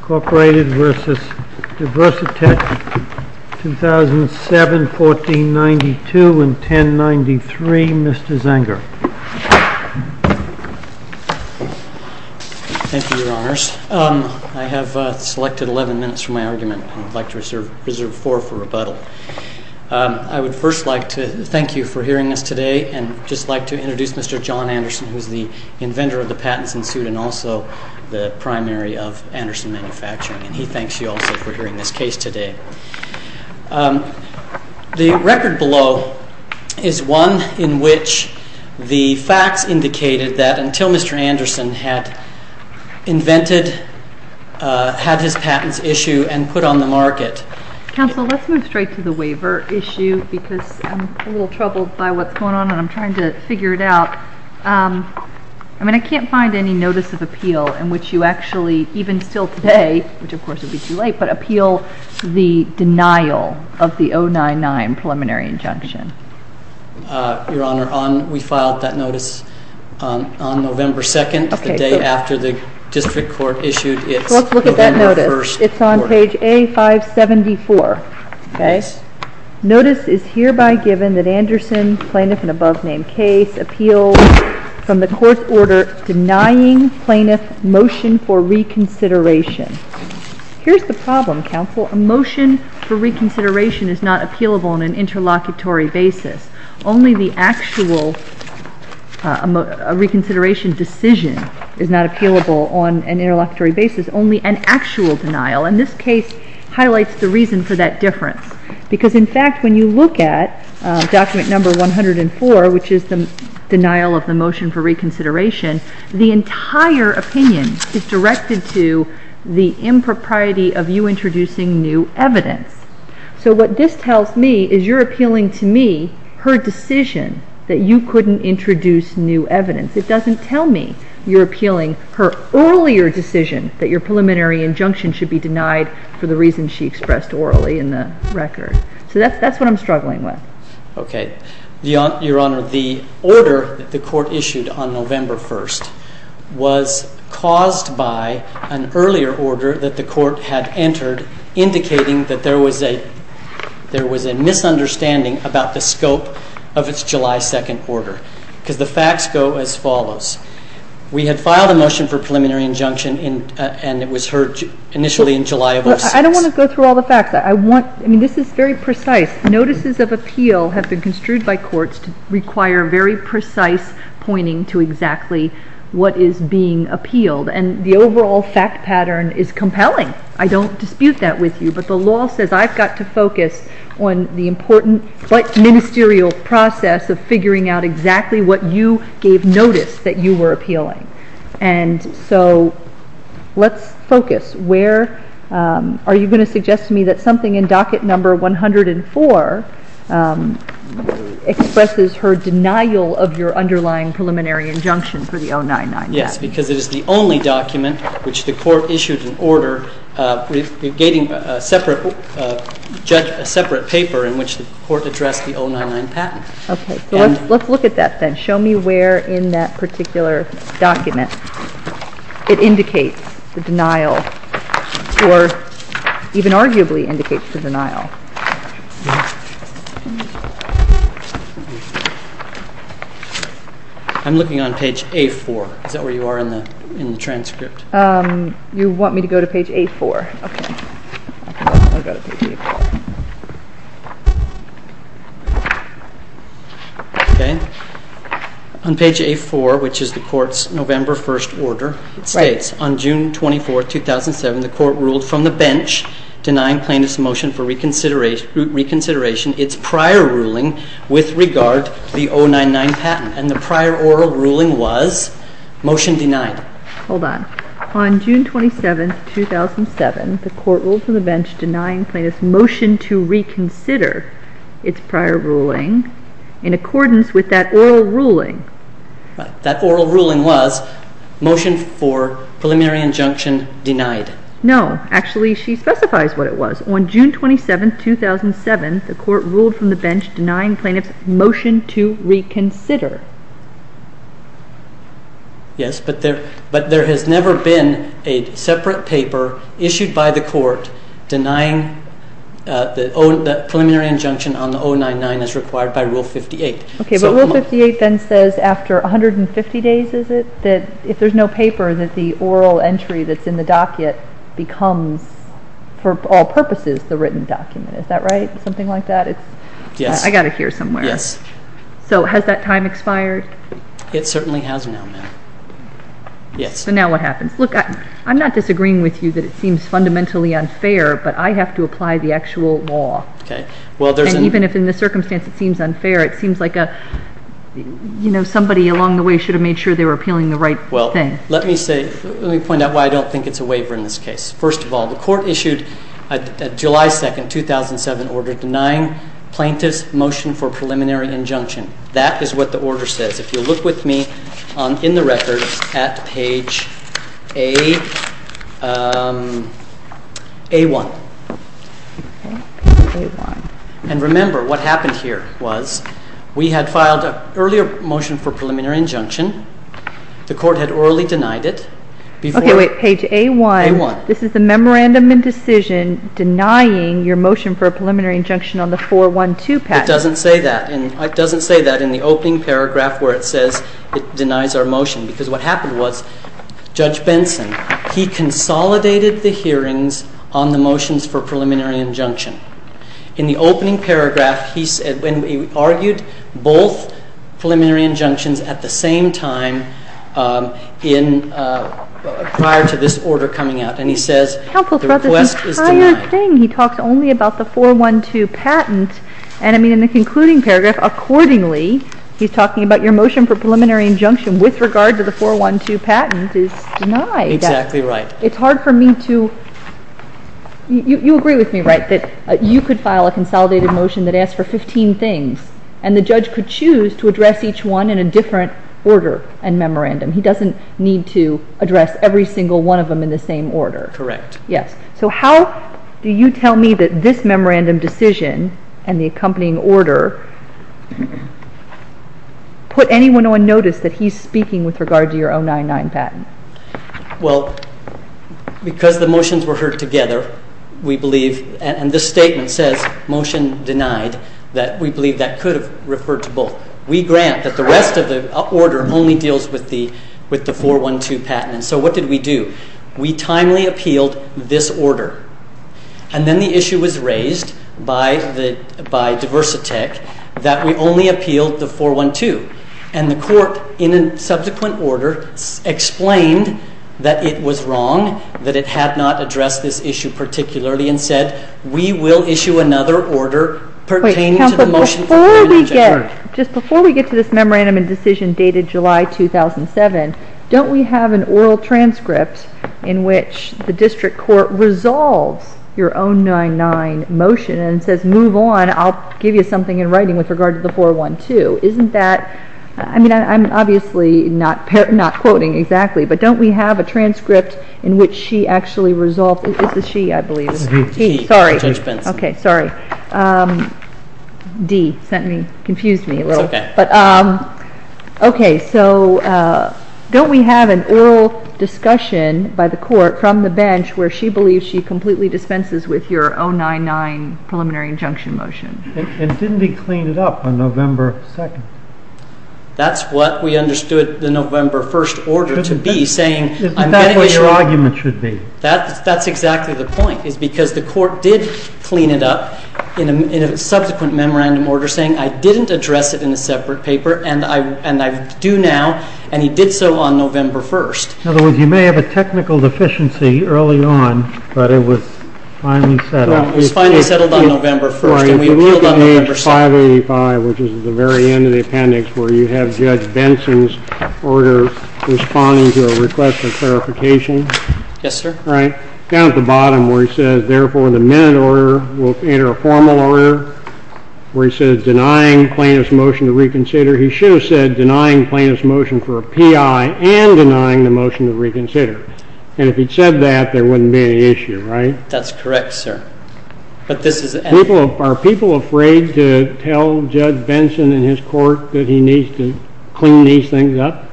Incorporated v. Diversi-Tech, 2007, 1492, and 1093. Mr. Zenger. Thank you, Your Honors. I have selected 11 minutes from my argument, and I'd like to reserve four for rebuttal. I would first like to thank you for hearing us today, and I'd just like to introduce Mr. John Anderson, who is the inventor of the patents in suit and also the primary of Anderson Manufacturing, and he thanks you also for hearing this case today. The record below is one in which the facts indicated that until Mr. Anderson had invented, had his patents issued, and put on the market— I mean, I can't find any notice of appeal in which you actually, even still today, which of course would be too late, but appeal the denial of the 099 preliminary injunction. Your Honor, we filed that notice on November 2nd, the day after the district court issued its November 1st report. Well, let's look at that notice. It's on page A574. Notice is hereby given that Anderson, plaintiff and above named case, appealed from the court's order denying plaintiff motion for reconsideration. Here's the problem, counsel. A motion for reconsideration is not appealable on an interlocutory basis. Only the actual reconsideration decision is not appealable on an interlocutory basis. It is only an actual denial, and this case highlights the reason for that difference. Because in fact, when you look at document number 104, which is the denial of the motion for reconsideration, the entire opinion is directed to the impropriety of you introducing new evidence. So what this tells me is you're appealing to me her decision that you couldn't introduce new evidence. It doesn't tell me you're appealing her earlier decision that your preliminary injunction should be denied for the reason she expressed orally in the record. So that's what I'm struggling with. Okay. Your Honor, the order that the court issued on November 1st was caused by an earlier order that the court had entered indicating that there was a misunderstanding about the scope of its July 2nd order. Because the facts go as follows. We had filed a motion for preliminary injunction, and it was heard initially in July of 2006. I don't want to go through all the facts. I mean, this is very precise. Notices of appeal have been construed by courts to require very precise pointing to exactly what is being appealed. And the overall fact pattern is compelling. I don't dispute that with you. But the law says I've got to focus on the important but ministerial process of figuring out exactly what you gave notice that you were appealing. And so let's focus. Are you going to suggest to me that something in docket number 104 expresses her denial of your underlying preliminary injunction for the 099? Yes, because it is the only document which the court issued an order regating a separate paper in which the court addressed the 099 patent. Okay. So let's look at that then. Show me where in that particular document it indicates the denial or even arguably indicates the denial. I'm looking on page A4. Is that where you are in the transcript? You want me to go to page A4? Okay. I'll go to page A4. Okay. On page A4, which is the court's November 1st order, it states, on June 24, 2007, the court ruled from the bench denying plaintiff's motion for reconsideration its prior ruling with regard to the 099 patent. And the prior oral ruling was? Motion denied. Hold on. On June 27, 2007, the court ruled from the bench denying plaintiff's motion to reconsider its prior ruling in accordance with that oral ruling. That oral ruling was motion for preliminary injunction denied. No. Actually, she specifies what it was. On June 27, 2007, the court ruled from the bench denying plaintiff's motion to reconsider. Yes, but there has never been a separate paper issued by the court denying the preliminary injunction on the 099 as required by Rule 58. Okay, but Rule 58 then says after 150 days, is it, that if there's no paper that the oral entry that's in the docket becomes, for all purposes, the written document. Is that right? Something like that? Yes. I've got to hear somewhere. Yes. So has that time expired? It certainly has now, ma'am. Yes. So now what happens? Look, I'm not disagreeing with you that it seems fundamentally unfair, but I have to apply the actual law. Okay. And even if in the circumstance it seems unfair, it seems like somebody along the way should have made sure they were appealing the right thing. Well, let me point out why I don't think it's a waiver in this case. First of all, the court issued a July 2, 2007, order denying plaintiff's motion for preliminary injunction. That is what the order says. If you'll look with me in the records at page A1. Okay, A1. And remember, what happened here was we had filed an earlier motion for preliminary injunction. The court had orally denied it. Okay, wait. Page A1. A1. This is the memorandum in decision denying your motion for a preliminary injunction on the 412 patent. It doesn't say that. It doesn't say that in the opening paragraph where it says it denies our motion because what happened was Judge Benson, he consolidated the hearings on the motions for preliminary injunction. In the opening paragraph, he argued both preliminary injunctions at the same time prior to this order coming out. And he says the request is denied. He talks only about the 412 patent. And, I mean, in the concluding paragraph, accordingly he's talking about your motion for preliminary injunction with regard to the 412 patent is denied. Exactly right. It's hard for me to – you agree with me, right, that you could file a consolidated motion that asks for 15 things, and the judge could choose to address each one in a different order and memorandum. He doesn't need to address every single one of them in the same order. Correct. Yes. So how do you tell me that this memorandum decision and the accompanying order put anyone on notice that he's speaking with regard to your 099 patent? Well, because the motions were heard together, we believe, and this statement says motion denied, that we believe that could have referred to both. We grant that the rest of the order only deals with the 412 patent. So what did we do? We timely appealed this order. And then the issue was raised by Diversatech that we only appealed the 412. And the court, in a subsequent order, explained that it was wrong, that it had not addressed this issue particularly, and said we will issue another order pertaining to the motion for preliminary injunction. Just before we get to this memorandum and decision dated July 2007, don't we have an oral transcript in which the district court resolves your 099 motion and says move on, I'll give you something in writing with regard to the 412. Isn't that, I mean, I'm obviously not quoting exactly, but don't we have a transcript in which she actually resolves, this is she I believe. Sorry. Judge Benson. Okay, sorry. Dee sent me, confused me a little. It's okay. Okay, so don't we have an oral discussion by the court from the bench where she believes she completely dispenses with your 099 preliminary injunction motion? And didn't we clean it up on November 2nd? That's what we understood the November 1st order to be, saying I'm getting it. That's what your argument should be. That's exactly the point, is because the court did clean it up in a subsequent memorandum order, saying I didn't address it in a separate paper and I, and I do now. And he did so on November 1st. In other words, you may have a technical deficiency early on, but it was finally settled. It was finally settled on November 1st and we appealed on November 2nd. 585, which is the very end of the appendix where you have judge Benson's order responding to a request for clarification. Yes, sir. Right down at the bottom where he says, therefore the minute order will enter a formal order where he says, denying plaintiff's motion to reconsider, he should have said denying plaintiff's motion for a PI and denying the motion to reconsider. And if he'd said that, there wouldn't be any issue, right? That's correct, sir. But this is. Are people afraid to tell judge Benson in his court that he needs to clean these things up?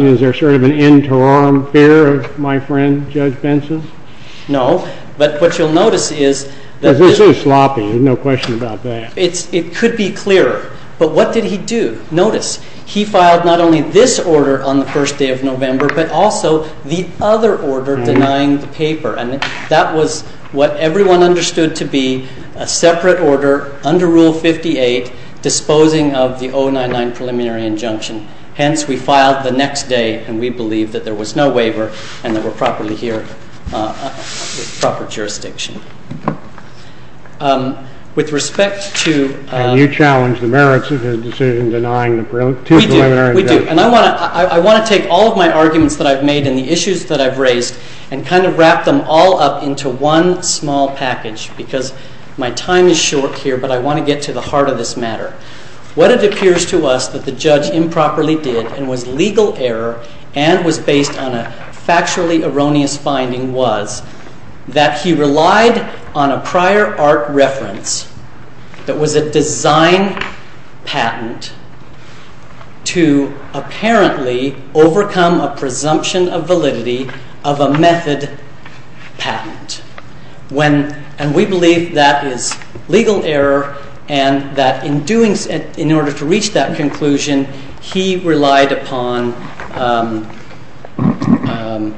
Is there sort of an end to all fear of my friend, judge Benson? No, but what you'll notice is that. This is sloppy. There's no question about that. It's, it could be clearer, but what did he do? Notice he filed not only this order on the first day of November, but also the other order denying the paper. And that was what everyone understood to be a separate order under rule 58, disposing of the 099 preliminary injunction. Hence we filed the next day and we believe that there was no waiver and that we're properly here. Proper jurisdiction. Um, with respect to, um, you challenged the merits of his decision, denying the preliminary. We do. And I want to, I want to take all of my arguments that I've made and the issues that I've raised and kind of wrap them all up into one small package because my time is short here, but I want to get to the heart of this matter. What it appears to us that the judge improperly did and was legal error and was based on a factually erroneous finding was that he relied on a prior art reference that was a design patent to apparently overcome a presumption of validity of a method patent when, and we believe that is legal error and that in doing so, in order to reach that conclusion, he relied upon, um, um, um,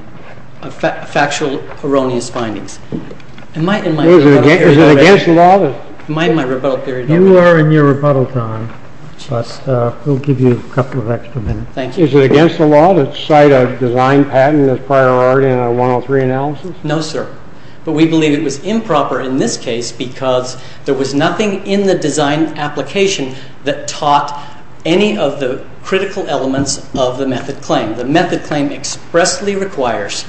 uh, factual erroneous findings in my, in my, is it against the law? Am I in my rebuttal period? You are in your rebuttal time, but, uh, we'll give you a couple of extra minutes. Thank you. Is it against the law to cite a design patent as prior art in a one Oh three analysis? No, sir. But we believe it was improper in this case because there was nothing in the design application that taught any of the critical elements of the method claim. The method claim expressly requires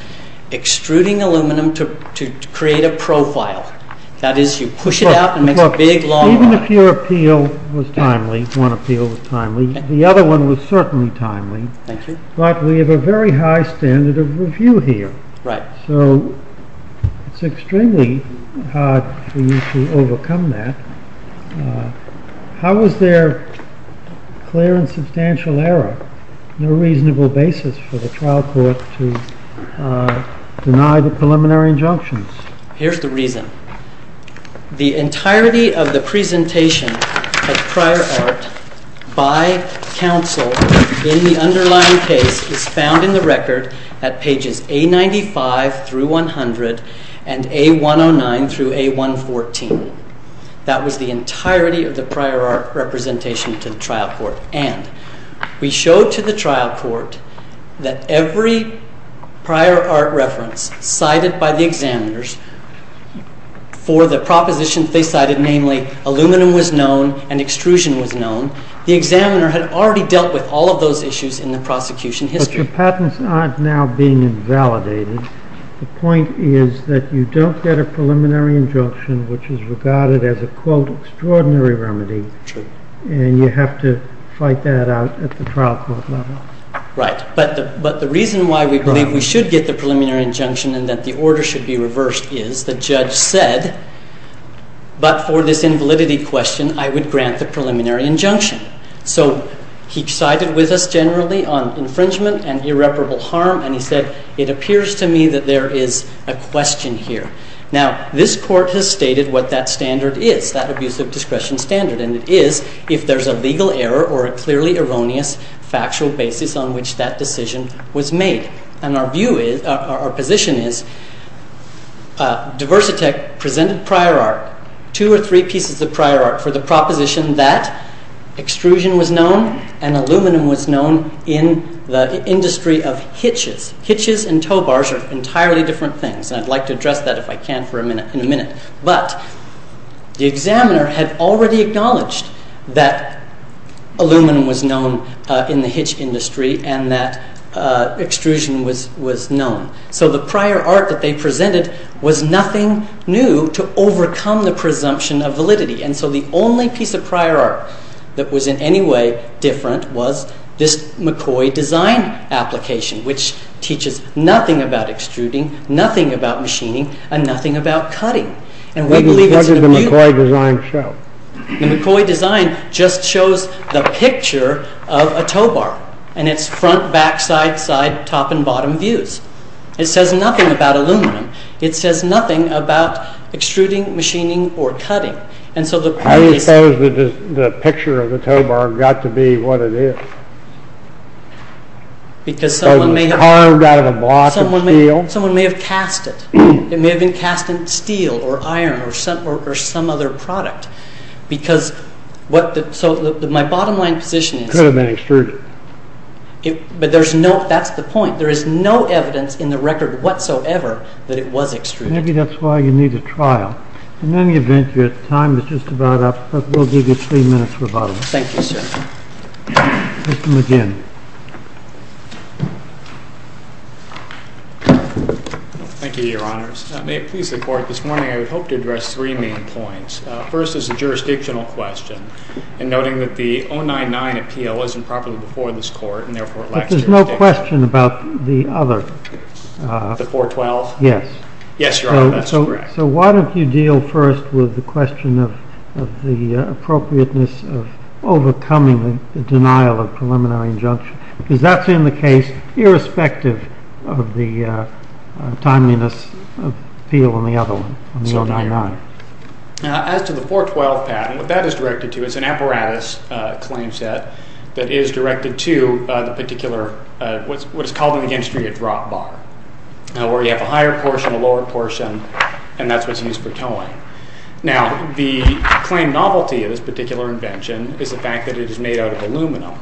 extruding aluminum to, to create a profile that is you push it out and make a big law. Even if your appeal was timely, one appeal was timely. The other one was certainly timely, but we have a very high standard of review here, right? So it's extremely hard for you to overcome that. Uh, how was there clear and substantial error? No reasonable basis for the trial court to, uh, deny the preliminary injunctions. Here's the reason the entirety of the presentation at prior art by counsel in the underlying case is found in the record at pages a 95 through 100 and a one Oh nine through a one 14. That was the entirety of the prior art representation to the trial court. And we showed to the trial court that every prior art reference cited by the examiners for the proposition they cited, namely aluminum was known and extrusion was known. The examiner had already dealt with all of those issues in the prosecution history. Patents aren't now being invalidated. The point is that you don't get a preliminary injunction, which is regarded as a quote, extraordinary remedy. And you have to fight that out at the trial court level. Right. But the, but the reason why we believe we should get the preliminary injunction and that the order should be reversed is the judge said, but for this invalidity question, I would grant the preliminary injunction. So he sided with us generally on infringement and irreparable harm. And he said, it appears to me that there is a question here. Now this court has stated what that standard is, that abuse of discretion standard. And it is, if there's a legal error or a clearly erroneous factual basis on which that decision was made. And our view is our position is a diversity tech presented prior art two or three pieces of prior art for the proposition that extrusion was known and industry of hitches, hitches and tow bars are entirely different things. And I'd like to address that if I can for a minute in a minute, but the examiner had already acknowledged that aluminum was known in the hitch industry and that extrusion was, was known. So the prior art that they presented was nothing new to overcome the presumption of validity. And so the only piece of prior art that was in any way different was this McCoy design application, which teaches nothing about extruding, nothing about machining and nothing about cutting. And we believe it's the McCoy design show. The McCoy design just shows the picture of a tow bar and it's front, backside, side, top and bottom views. It says nothing about aluminum. It says nothing about extruding machining or cutting. And so the picture of the tow bar got to be what it is. Because someone may have carved out of a block of steel. Someone may have cast it. It may have been cast in steel or iron or some, or some other product because what the, so my bottom line position is. It could have been extruded. But there's no, that's the point. There is no evidence in the record whatsoever that it was extruded. Maybe that's why you need a trial. In any event, but we'll give you three minutes for a bottom up. Thank you, sir. Mr. McGinn. Thank you, Your Honors. May it please the court, this morning I would hope to address three main points. First is a jurisdictional question. And noting that the 099 appeal isn't properly before this court, and therefore it lacks jurisdiction. But there's no question about the other. The 412? Yes. Yes, Your Honor, that's correct. So why don't you deal first with the question of, of the appropriateness of overcoming the denial of preliminary injunction? Because that's in the case, irrespective of the timeliness of appeal on the other one, on the 099. As to the 412 patent, what that is directed to is an apparatus claim set that is directed to the particular, what is called in the industry a drop bar, where you have a higher portion, a lower portion, and that's what's used for towing. Now, the claim novelty of this particular invention is the fact that it is made out of aluminum.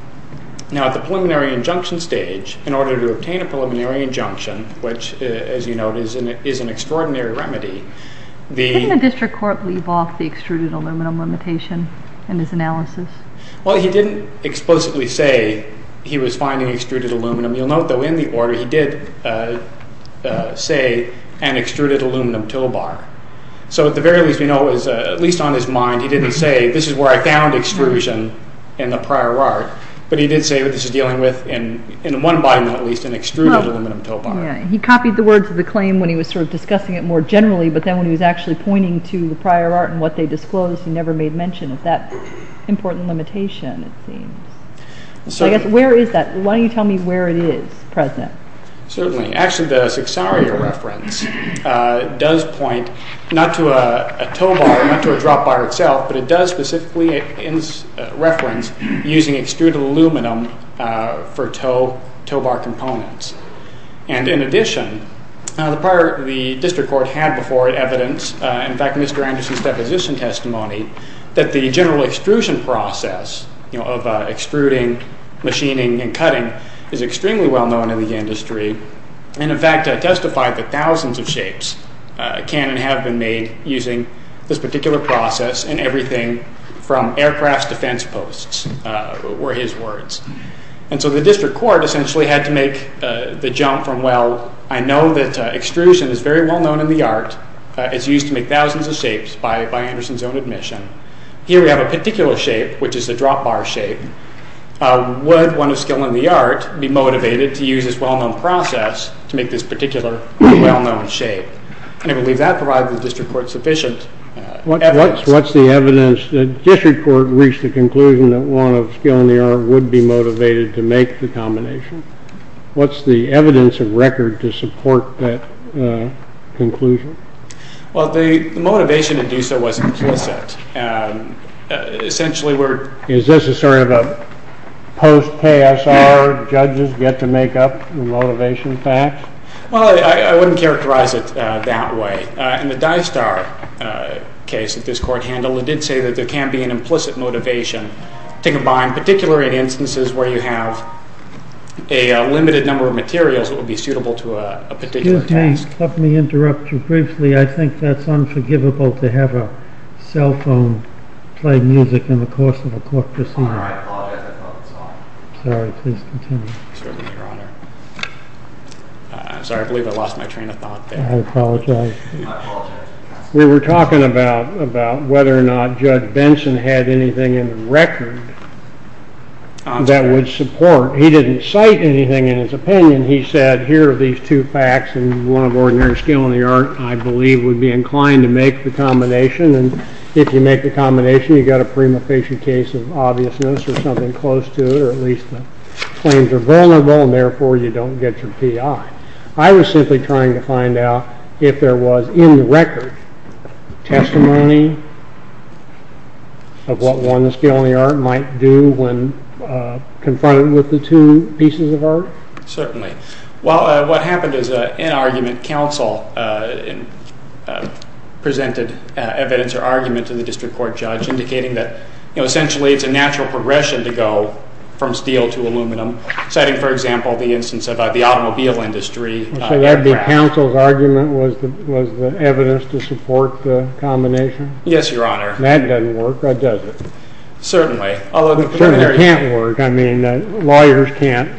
Now, at the preliminary injunction stage, in order to obtain a preliminary injunction, which, as you note, is an extraordinary remedy, the... Couldn't the district court leave off the extruded aluminum limitation in his analysis? Well, he didn't explicitly say he was finding extruded aluminum. You'll note, though, in the order, he did say an extruded aluminum tow bar. So, at the very least, we know it was, at least on his mind, he didn't say, this is where I found extrusion in the prior art, but he did say what this is dealing with, in one body, at least, an extruded aluminum tow bar. He copied the words of the claim when he was sort of discussing it more generally, but then when he was actually pointing to the prior art and what they disclosed, he never made mention of that important limitation, it seems. So, I guess, where is that? Why don't you tell me where it is, President? Certainly. Actually, the Cixaria reference does point not to a tow bar, not to a drop bar itself, but it does specifically reference using extruded aluminum for tow bar components. And, in addition, the prior... The district court had before it evidence, in fact, Mr. Anderson's deposition testimony, that the general extrusion process, you know, of extruding, machining, and cutting is extremely well known in the industry, and, in fact, testified that thousands of shapes can and have been made using this particular process and everything from aircrafts to fence posts were his words. And so the district court essentially had to make the jump from, well, I know that extrusion is very well known in the art. It's used to make thousands of shapes by Anderson's own admission. Here we have a particular shape, which is the drop bar shape. Would one of skill in the art be motivated to use this well-known process to make this particular well-known shape? And I believe that provides the district court sufficient evidence. What's the evidence that district court reached the conclusion that one of skill in the art would be motivated to make the combination? What's the evidence of record to support that conclusion? Well, the motivation to do so was implicit. Essentially, we're... Is this a sort of a post-TSR, judges get to make up the motivation facts? Well, I wouldn't characterize it that way. In the dive star case that this court handled, it did say that there can be an implicit motivation to combine, particularly in instances where you have a limited number of materials that would be suitable to a particular task. Excuse me. Let me interrupt you briefly. I think that's unforgivable to have a cell phone play music in the course of a court proceeding. I apologize. I thought it was fine. Sorry. Please continue. Certainly, Your Honor. I'm sorry. I believe I lost my train of thought there. I apologize. I apologize. We were talking about whether or not Judge Benson had anything in the record that would support. He didn't cite anything in his opinion. He said, here are these two facts, and one of ordinary skill in the art, I believe, would be inclined to make the combination. And if you make the combination, you've got a prima facie case of obviousness or something close to it, or at least the claims are vulnerable, and therefore you don't get your PI. I was simply trying to find out if there was, in the record, testimony of what one's skill in the art might do when confronted with the two pieces of art. Certainly. Well, what happened is an argument counsel presented evidence or argument to the district court judge indicating that essentially it's a natural progression to go from steel to aluminum, citing, for example, the instance of the automobile industry. So that counsel's argument was the evidence to support the combination? Yes, Your Honor. That doesn't work, does it? Certainly. Certainly can't work. I mean, lawyers can't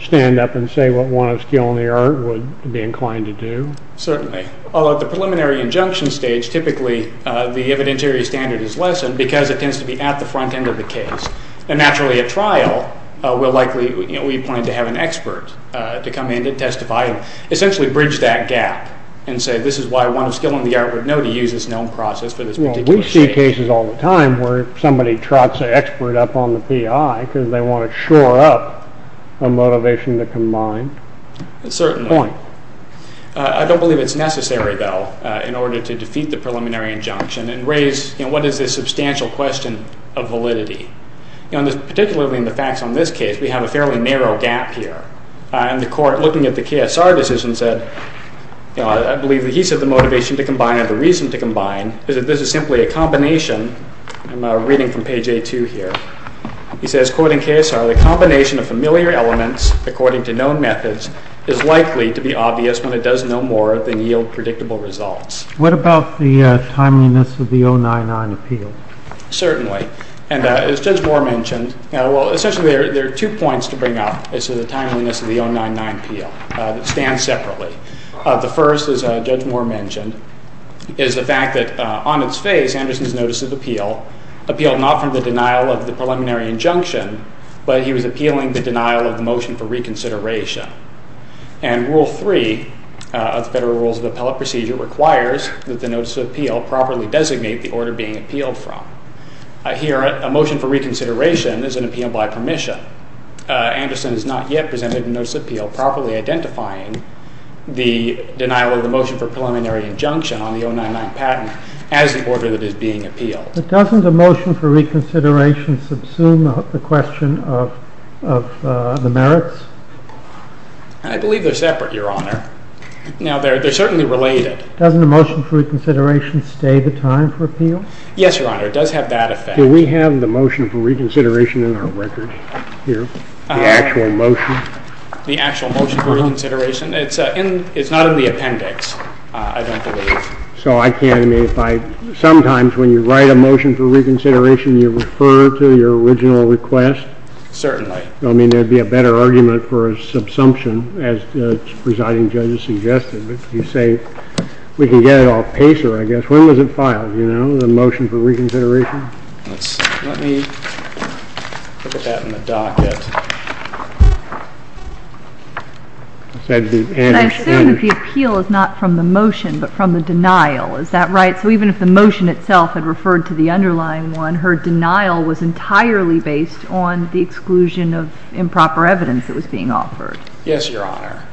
stand up and say what one of skill in the art would be inclined to do. Certainly. Although at the preliminary injunction stage, typically the evidentiary standard is lessened because it tends to be at the front end of the case. And naturally at trial, we're likely, we point to have an expert to come in and testify and essentially bridge that gap and say this is why one of skill in the art would know to use this known process for this particular case. Well, we see cases all the time where somebody trots an expert up on the PI because they want to shore up a motivation to combine. Certainly. I don't believe it's necessary, though, in order to defeat the preliminary injunction and raise what is this substantial question of validity. Particularly in the facts on this case, we have a fairly narrow gap here. And the court, looking at the KSR decision, said, I believe that he said the motivation to combine or the reason to combine is that this is simply a combination. I'm reading from page A2 here. He says, quoting KSR, the combination of familiar elements according to known methods is likely to be obvious when it does no more than yield predictable results. What about the timeliness of the 099 appeal? Certainly. And as Judge Moore mentioned, well, essentially there are two points to bring up as to the timeliness of the 099 appeal that stand separately. The first, as Judge Moore mentioned, is the fact that on its face, Anderson's notice of appeal appealed not from the denial of the preliminary injunction, but he was appealing the denial of the motion for reconsideration. And Rule 3 of the Federal Rules of Appellate Procedure requires that the notice of appeal properly designate the order being appealed from. Here, a motion for reconsideration is an appeal by permission. Anderson has not yet presented a notice of appeal properly identifying the denial of the motion for preliminary injunction on the 099 patent as the order that is being appealed. But doesn't a motion for reconsideration subsume the question of the merits? I believe they're separate, Your Honor. Now, they're certainly related. Doesn't a motion for reconsideration stay the time for appeal? Yes, Your Honor. It does have that effect. Do we have the motion for reconsideration in our record here, the actual motion? The actual motion for reconsideration? It's not in the appendix, I don't believe. So I can't, I mean, if I, sometimes when you write a motion for reconsideration you refer to your original request? Certainly. I mean, there'd be a better argument for a subsumption as the presiding judge has suggested. But you say, we can get it off pacer, I guess. When was it filed, you know, the motion for reconsideration? Let's see. Let me put that in the docket. It had to be Anderson. But I assume that the appeal is not from the motion, but from the denial. Is that right? So even if the motion itself had referred to the underlying one, her denial was entirely based on the exclusion of improper evidence that was being offered. Yes, Your Honor.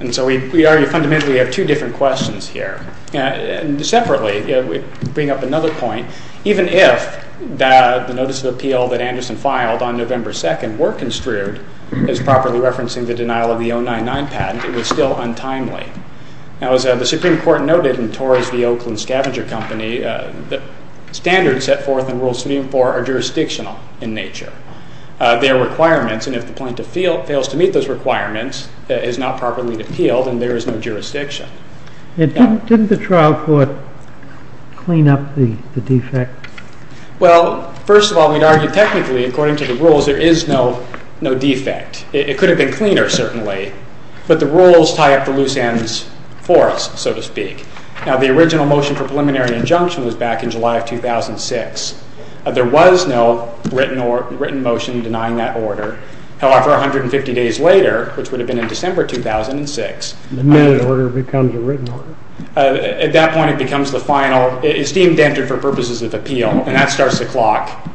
And so we already fundamentally have two different questions here. Separately, to bring up another point, even if the notice of appeal that Anderson filed on November 2nd were construed as properly referencing the denial of the 099 patent, it was still untimely. Now, as the Supreme Court noted in Tories v. Oakland Scavenger Company, the standards set forth in Rule 3 and 4 are jurisdictional in nature. They are requirements, and if the plaintiff fails to meet those requirements, it is not properly appealed, and there is no jurisdiction. Didn't the trial court clean up the defect? Well, first of all, we'd argue technically, according to the rules, there is no defect. It could have been cleaner, certainly. But the rules tie up the loose ends for us, so to speak. Now, the original motion for preliminary injunction was back in July of 2006. There was no written motion denying that order. However, 150 days later, which would have been in December 2006, The minute order becomes a written order? At that point, it becomes the final. It's deemed entered for purposes of appeal, and that starts the clock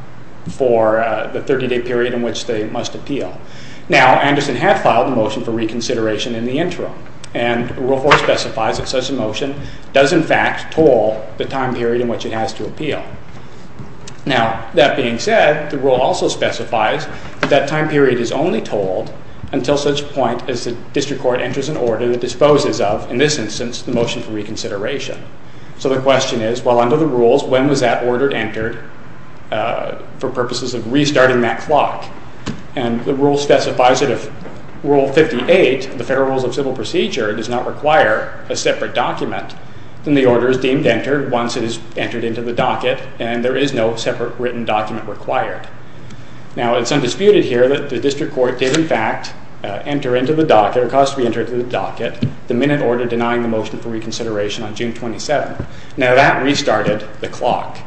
for the 30-day period in which they must appeal. Now, Anderson had filed a motion for reconsideration in the interim, and Rule 4 specifies that such a motion does, in fact, toll the time period in which it has to appeal. Now, that being said, the rule also specifies that that time period is only tolled until such point as the district court enters an order that disposes of, in this instance, the motion for reconsideration. So the question is, well, under the rules, when was that order entered for purposes of restarting that clock? And the rule specifies that if Rule 58, the Federal Rules of Civil Procedure, does not require a separate document, then the order is deemed entered once it is entered into the docket, and there is no separate written document required. Now, it's undisputed here that the district court did, in fact, enter into the docket, or caused to be entered into the docket, the minute order denying the motion for reconsideration on June 27. Now, that restarted the clock.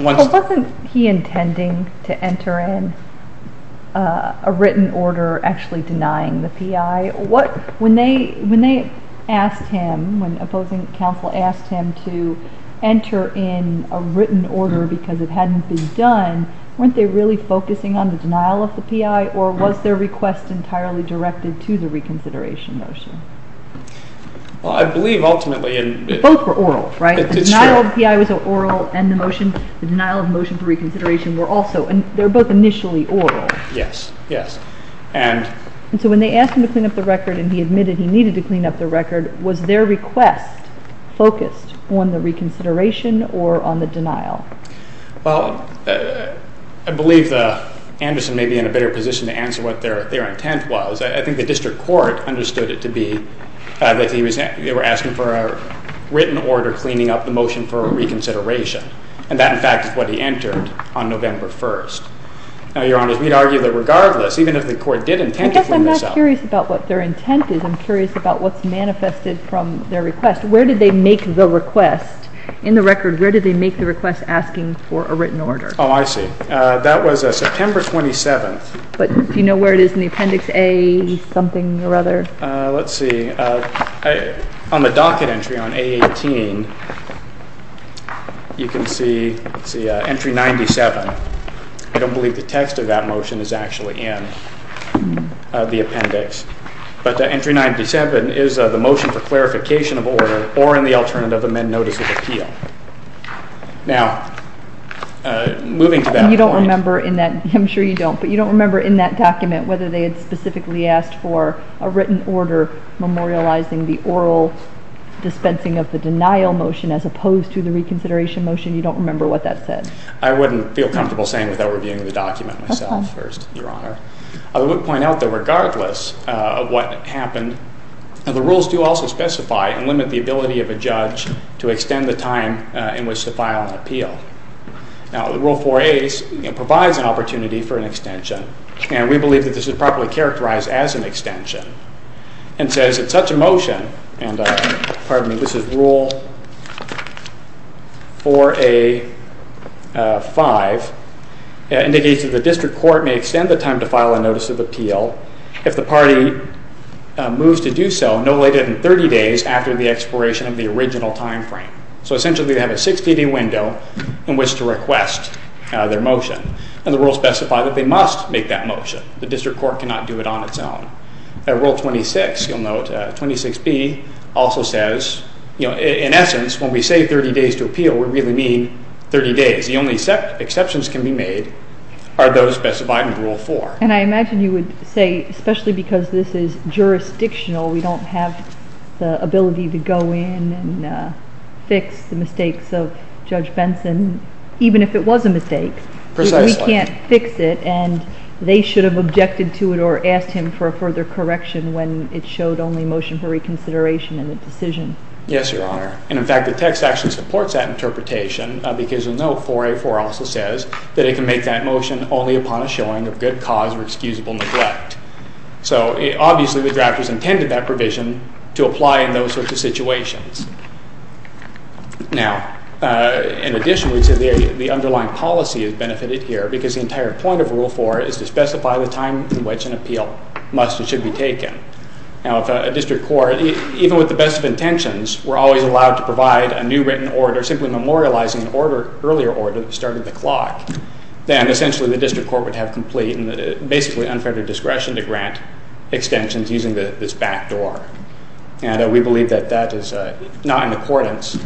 Well, wasn't he intending to enter in a written order actually denying the PI? When they asked him, when opposing counsel asked him to enter in a written order because it hadn't been done, weren't they really focusing on the denial of the PI, or was their request entirely directed to the reconsideration motion? Well, I believe, ultimately... They both were oral, right? It's true. The denial of PI was oral, and the denial of motion for reconsideration were also. They were both initially oral. Yes, yes. And so when they asked him to clean up the record, and he admitted he needed to clean up the record, was their request focused on the reconsideration or on the denial? Well, I believe Anderson may be in a better position to answer what their intent was. I think the district court understood it to be that they were asking for a written order cleaning up the motion for reconsideration, and that, in fact, is what he entered on November 1st. Now, Your Honor, we'd argue that regardless, even if the court did intend to clean this up... I guess I'm not curious about what their intent is. I'm curious about what's manifested from their request. Where did they make the request? In the record, where did they make the request asking for a written order? Oh, I see. That was September 27th. But do you know where it is in the Appendix A something or other? Let's see. On the docket entry on A18, you can see Entry 97. I don't believe the text of that motion is actually in the Appendix. But Entry 97 is the motion for clarification of order or in the alternative amend notice of appeal. Now, moving to that point... You don't remember in that, I'm sure you don't, but you don't remember in that document whether they had specifically asked for a written order memorializing the oral dispensing of the denial motion as opposed to the reconsideration motion? You don't remember what that said? I wouldn't feel comfortable saying without reviewing the document myself first, Your Honor. I would point out that regardless of what happened, the rules do also specify and limit the ability of a judge to extend the time in which to file an appeal. Now, Rule 4A provides an opportunity for an extension, and we believe that this is properly characterized as an extension. It says that such a motion, and pardon me, this is Rule 4A-5, indicates that the district court may extend the time to file a notice of appeal if the party moves to do so no later than 30 days after the expiration of the original time frame. So essentially, they have a 60-day window in which to request their motion, and the rules specify that they must make that motion. The district court cannot do it on its own. Rule 26, you'll note, 26B also says, in essence, when we say 30 days to appeal, we really mean 30 days. The only exceptions can be made are those specified in Rule 4. And I imagine you would say, especially because this is jurisdictional, we don't have the ability to go in and fix the mistakes of Judge Benson, even if it was a mistake. Precisely. We can't fix it, and they should have objected to it or asked him for a further correction when it showed only motion for reconsideration in the decision. Yes, Your Honor. And, in fact, the text actually supports that interpretation, because you'll note 4A-4 also says that it can make that motion only upon a showing of good cause or excusable neglect. So, obviously, the drafters intended that provision to apply in those sorts of situations. Now, in addition, we'd say the underlying policy is benefited here, because the entire point of Rule 4 is to specify the time in which an appeal must and should be taken. Now, if a district court, even with the best of intentions, were always allowed to provide a new written order, simply memorializing an earlier order that started the clock, then, essentially, the district court would have complete and basically unfettered discretion to grant extensions using this backdoor. And we believe that that is not in accordance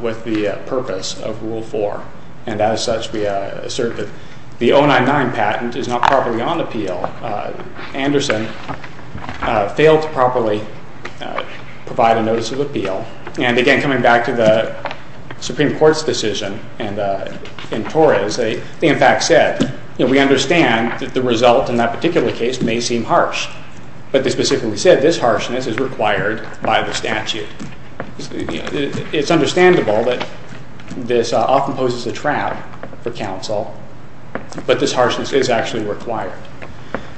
with the purpose of Rule 4. And, as such, we assert that the 099 patent is not properly on appeal. Anderson failed to properly provide a notice of appeal. And, again, coming back to the Supreme Court's decision in Torres, they, in fact, said, you know, we understand that the result in that particular case may seem harsh. But they specifically said this harshness is required by the statute. It's understandable that this often poses a trap for counsel, but this harshness is actually required.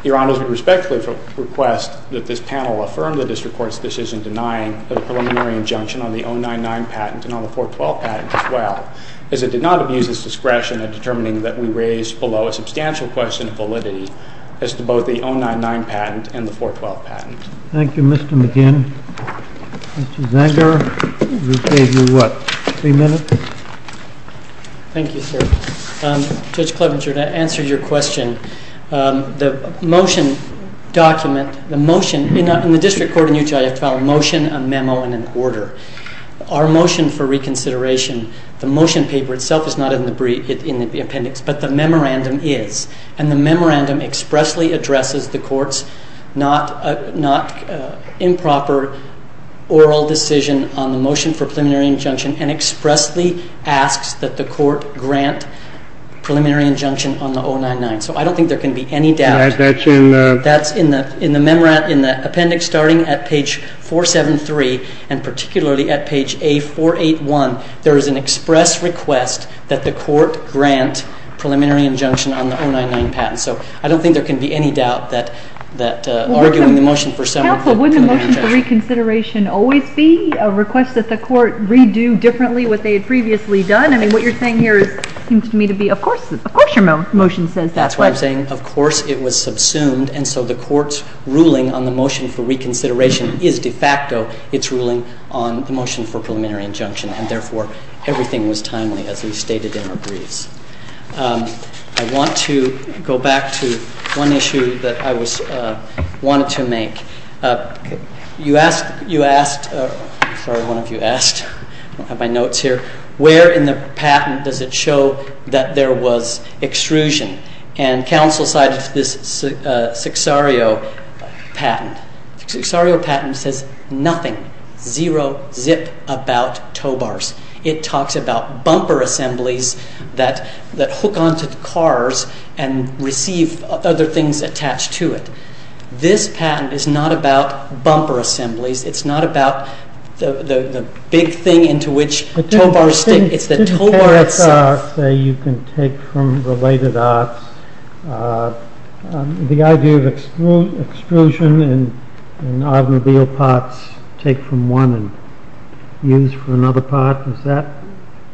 Your Honors, we respectfully request that this panel affirm the district court's decision denying a preliminary injunction on the 099 patent and on the 412 patent as well, as it did not abuse its discretion in determining that we raised below a substantial question of validity as to both the 099 patent and the 412 patent. Thank you, Mr. McGinn. Mr. Zenger, you gave me, what, three minutes? Thank you, sir. Judge Clevenger, to answer your question, the motion document, the motion, in the district court in Utah, you have to file a motion, a memo, and an order. Our motion for reconsideration, the motion paper itself is not in the appendix, but the memorandum is. And the memorandum expressly addresses the court's not improper oral decision on the motion for preliminary injunction and expressly asks that the court grant preliminary injunction on the 099. So I don't think there can be any doubt. That's in the appendix starting at page 473, and particularly at page A481, there is an express request that the court grant preliminary injunction on the 099 patent. So I don't think there can be any doubt that arguing the motion for summary. Counsel, wouldn't the motion for reconsideration always be a request that the court redo differently what they had previously done? I mean, what you're saying here seems to me to be, of course your motion says that. That's why I'm saying, of course it was subsumed, and so the court's ruling on the motion for reconsideration is de facto its ruling on the motion for preliminary injunction, and therefore everything was timely as we stated in our briefs. I want to go back to one issue that I wanted to make. You asked, sorry, one of you asked, I don't have my notes here, where in the patent does it show that there was extrusion? And counsel cited this Sixario patent. The Sixario patent says nothing, zero zip about tow bars. It talks about bumper assemblies that hook onto the cars and receive other things attached to it. This patent is not about bumper assemblies. It's not about the big thing into which tow bars stick. It's the tow bar itself. Say you can take from related arts. The idea of extrusion and automobile parts take from one and use for another part, is that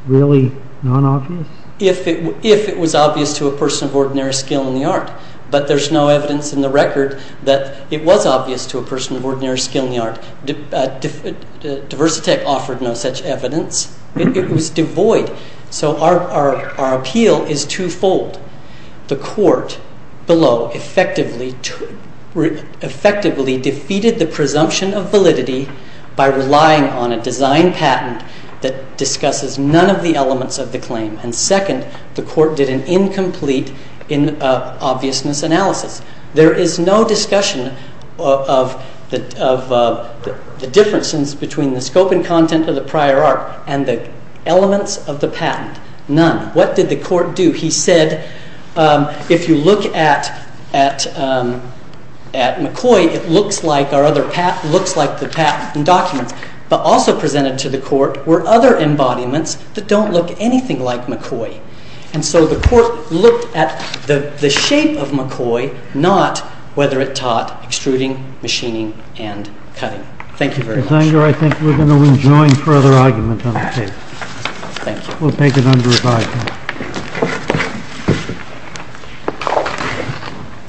really non-obvious? If it was obvious to a person of ordinary skill in the art, but there's no evidence in the record that it was obvious to a person of ordinary skill in the art. Diversitech offered no such evidence. It was devoid. So our appeal is twofold. The court below effectively defeated the presumption of validity by relying on a design patent that discusses none of the elements of the claim. And second, the court did an incomplete obviousness analysis. There is no discussion of the differences between the scope and content of the prior art and the elements of the patent. None. What did the court do? He said, if you look at McCoy, it looks like the patent documents. But also presented to the court were other embodiments that don't look anything like McCoy. And so the court looked at the shape of McCoy, not whether it taught extruding, machining, and cutting. Thank you very much. I think we're going to enjoin further argument on this case. Thank you. We'll take it under review.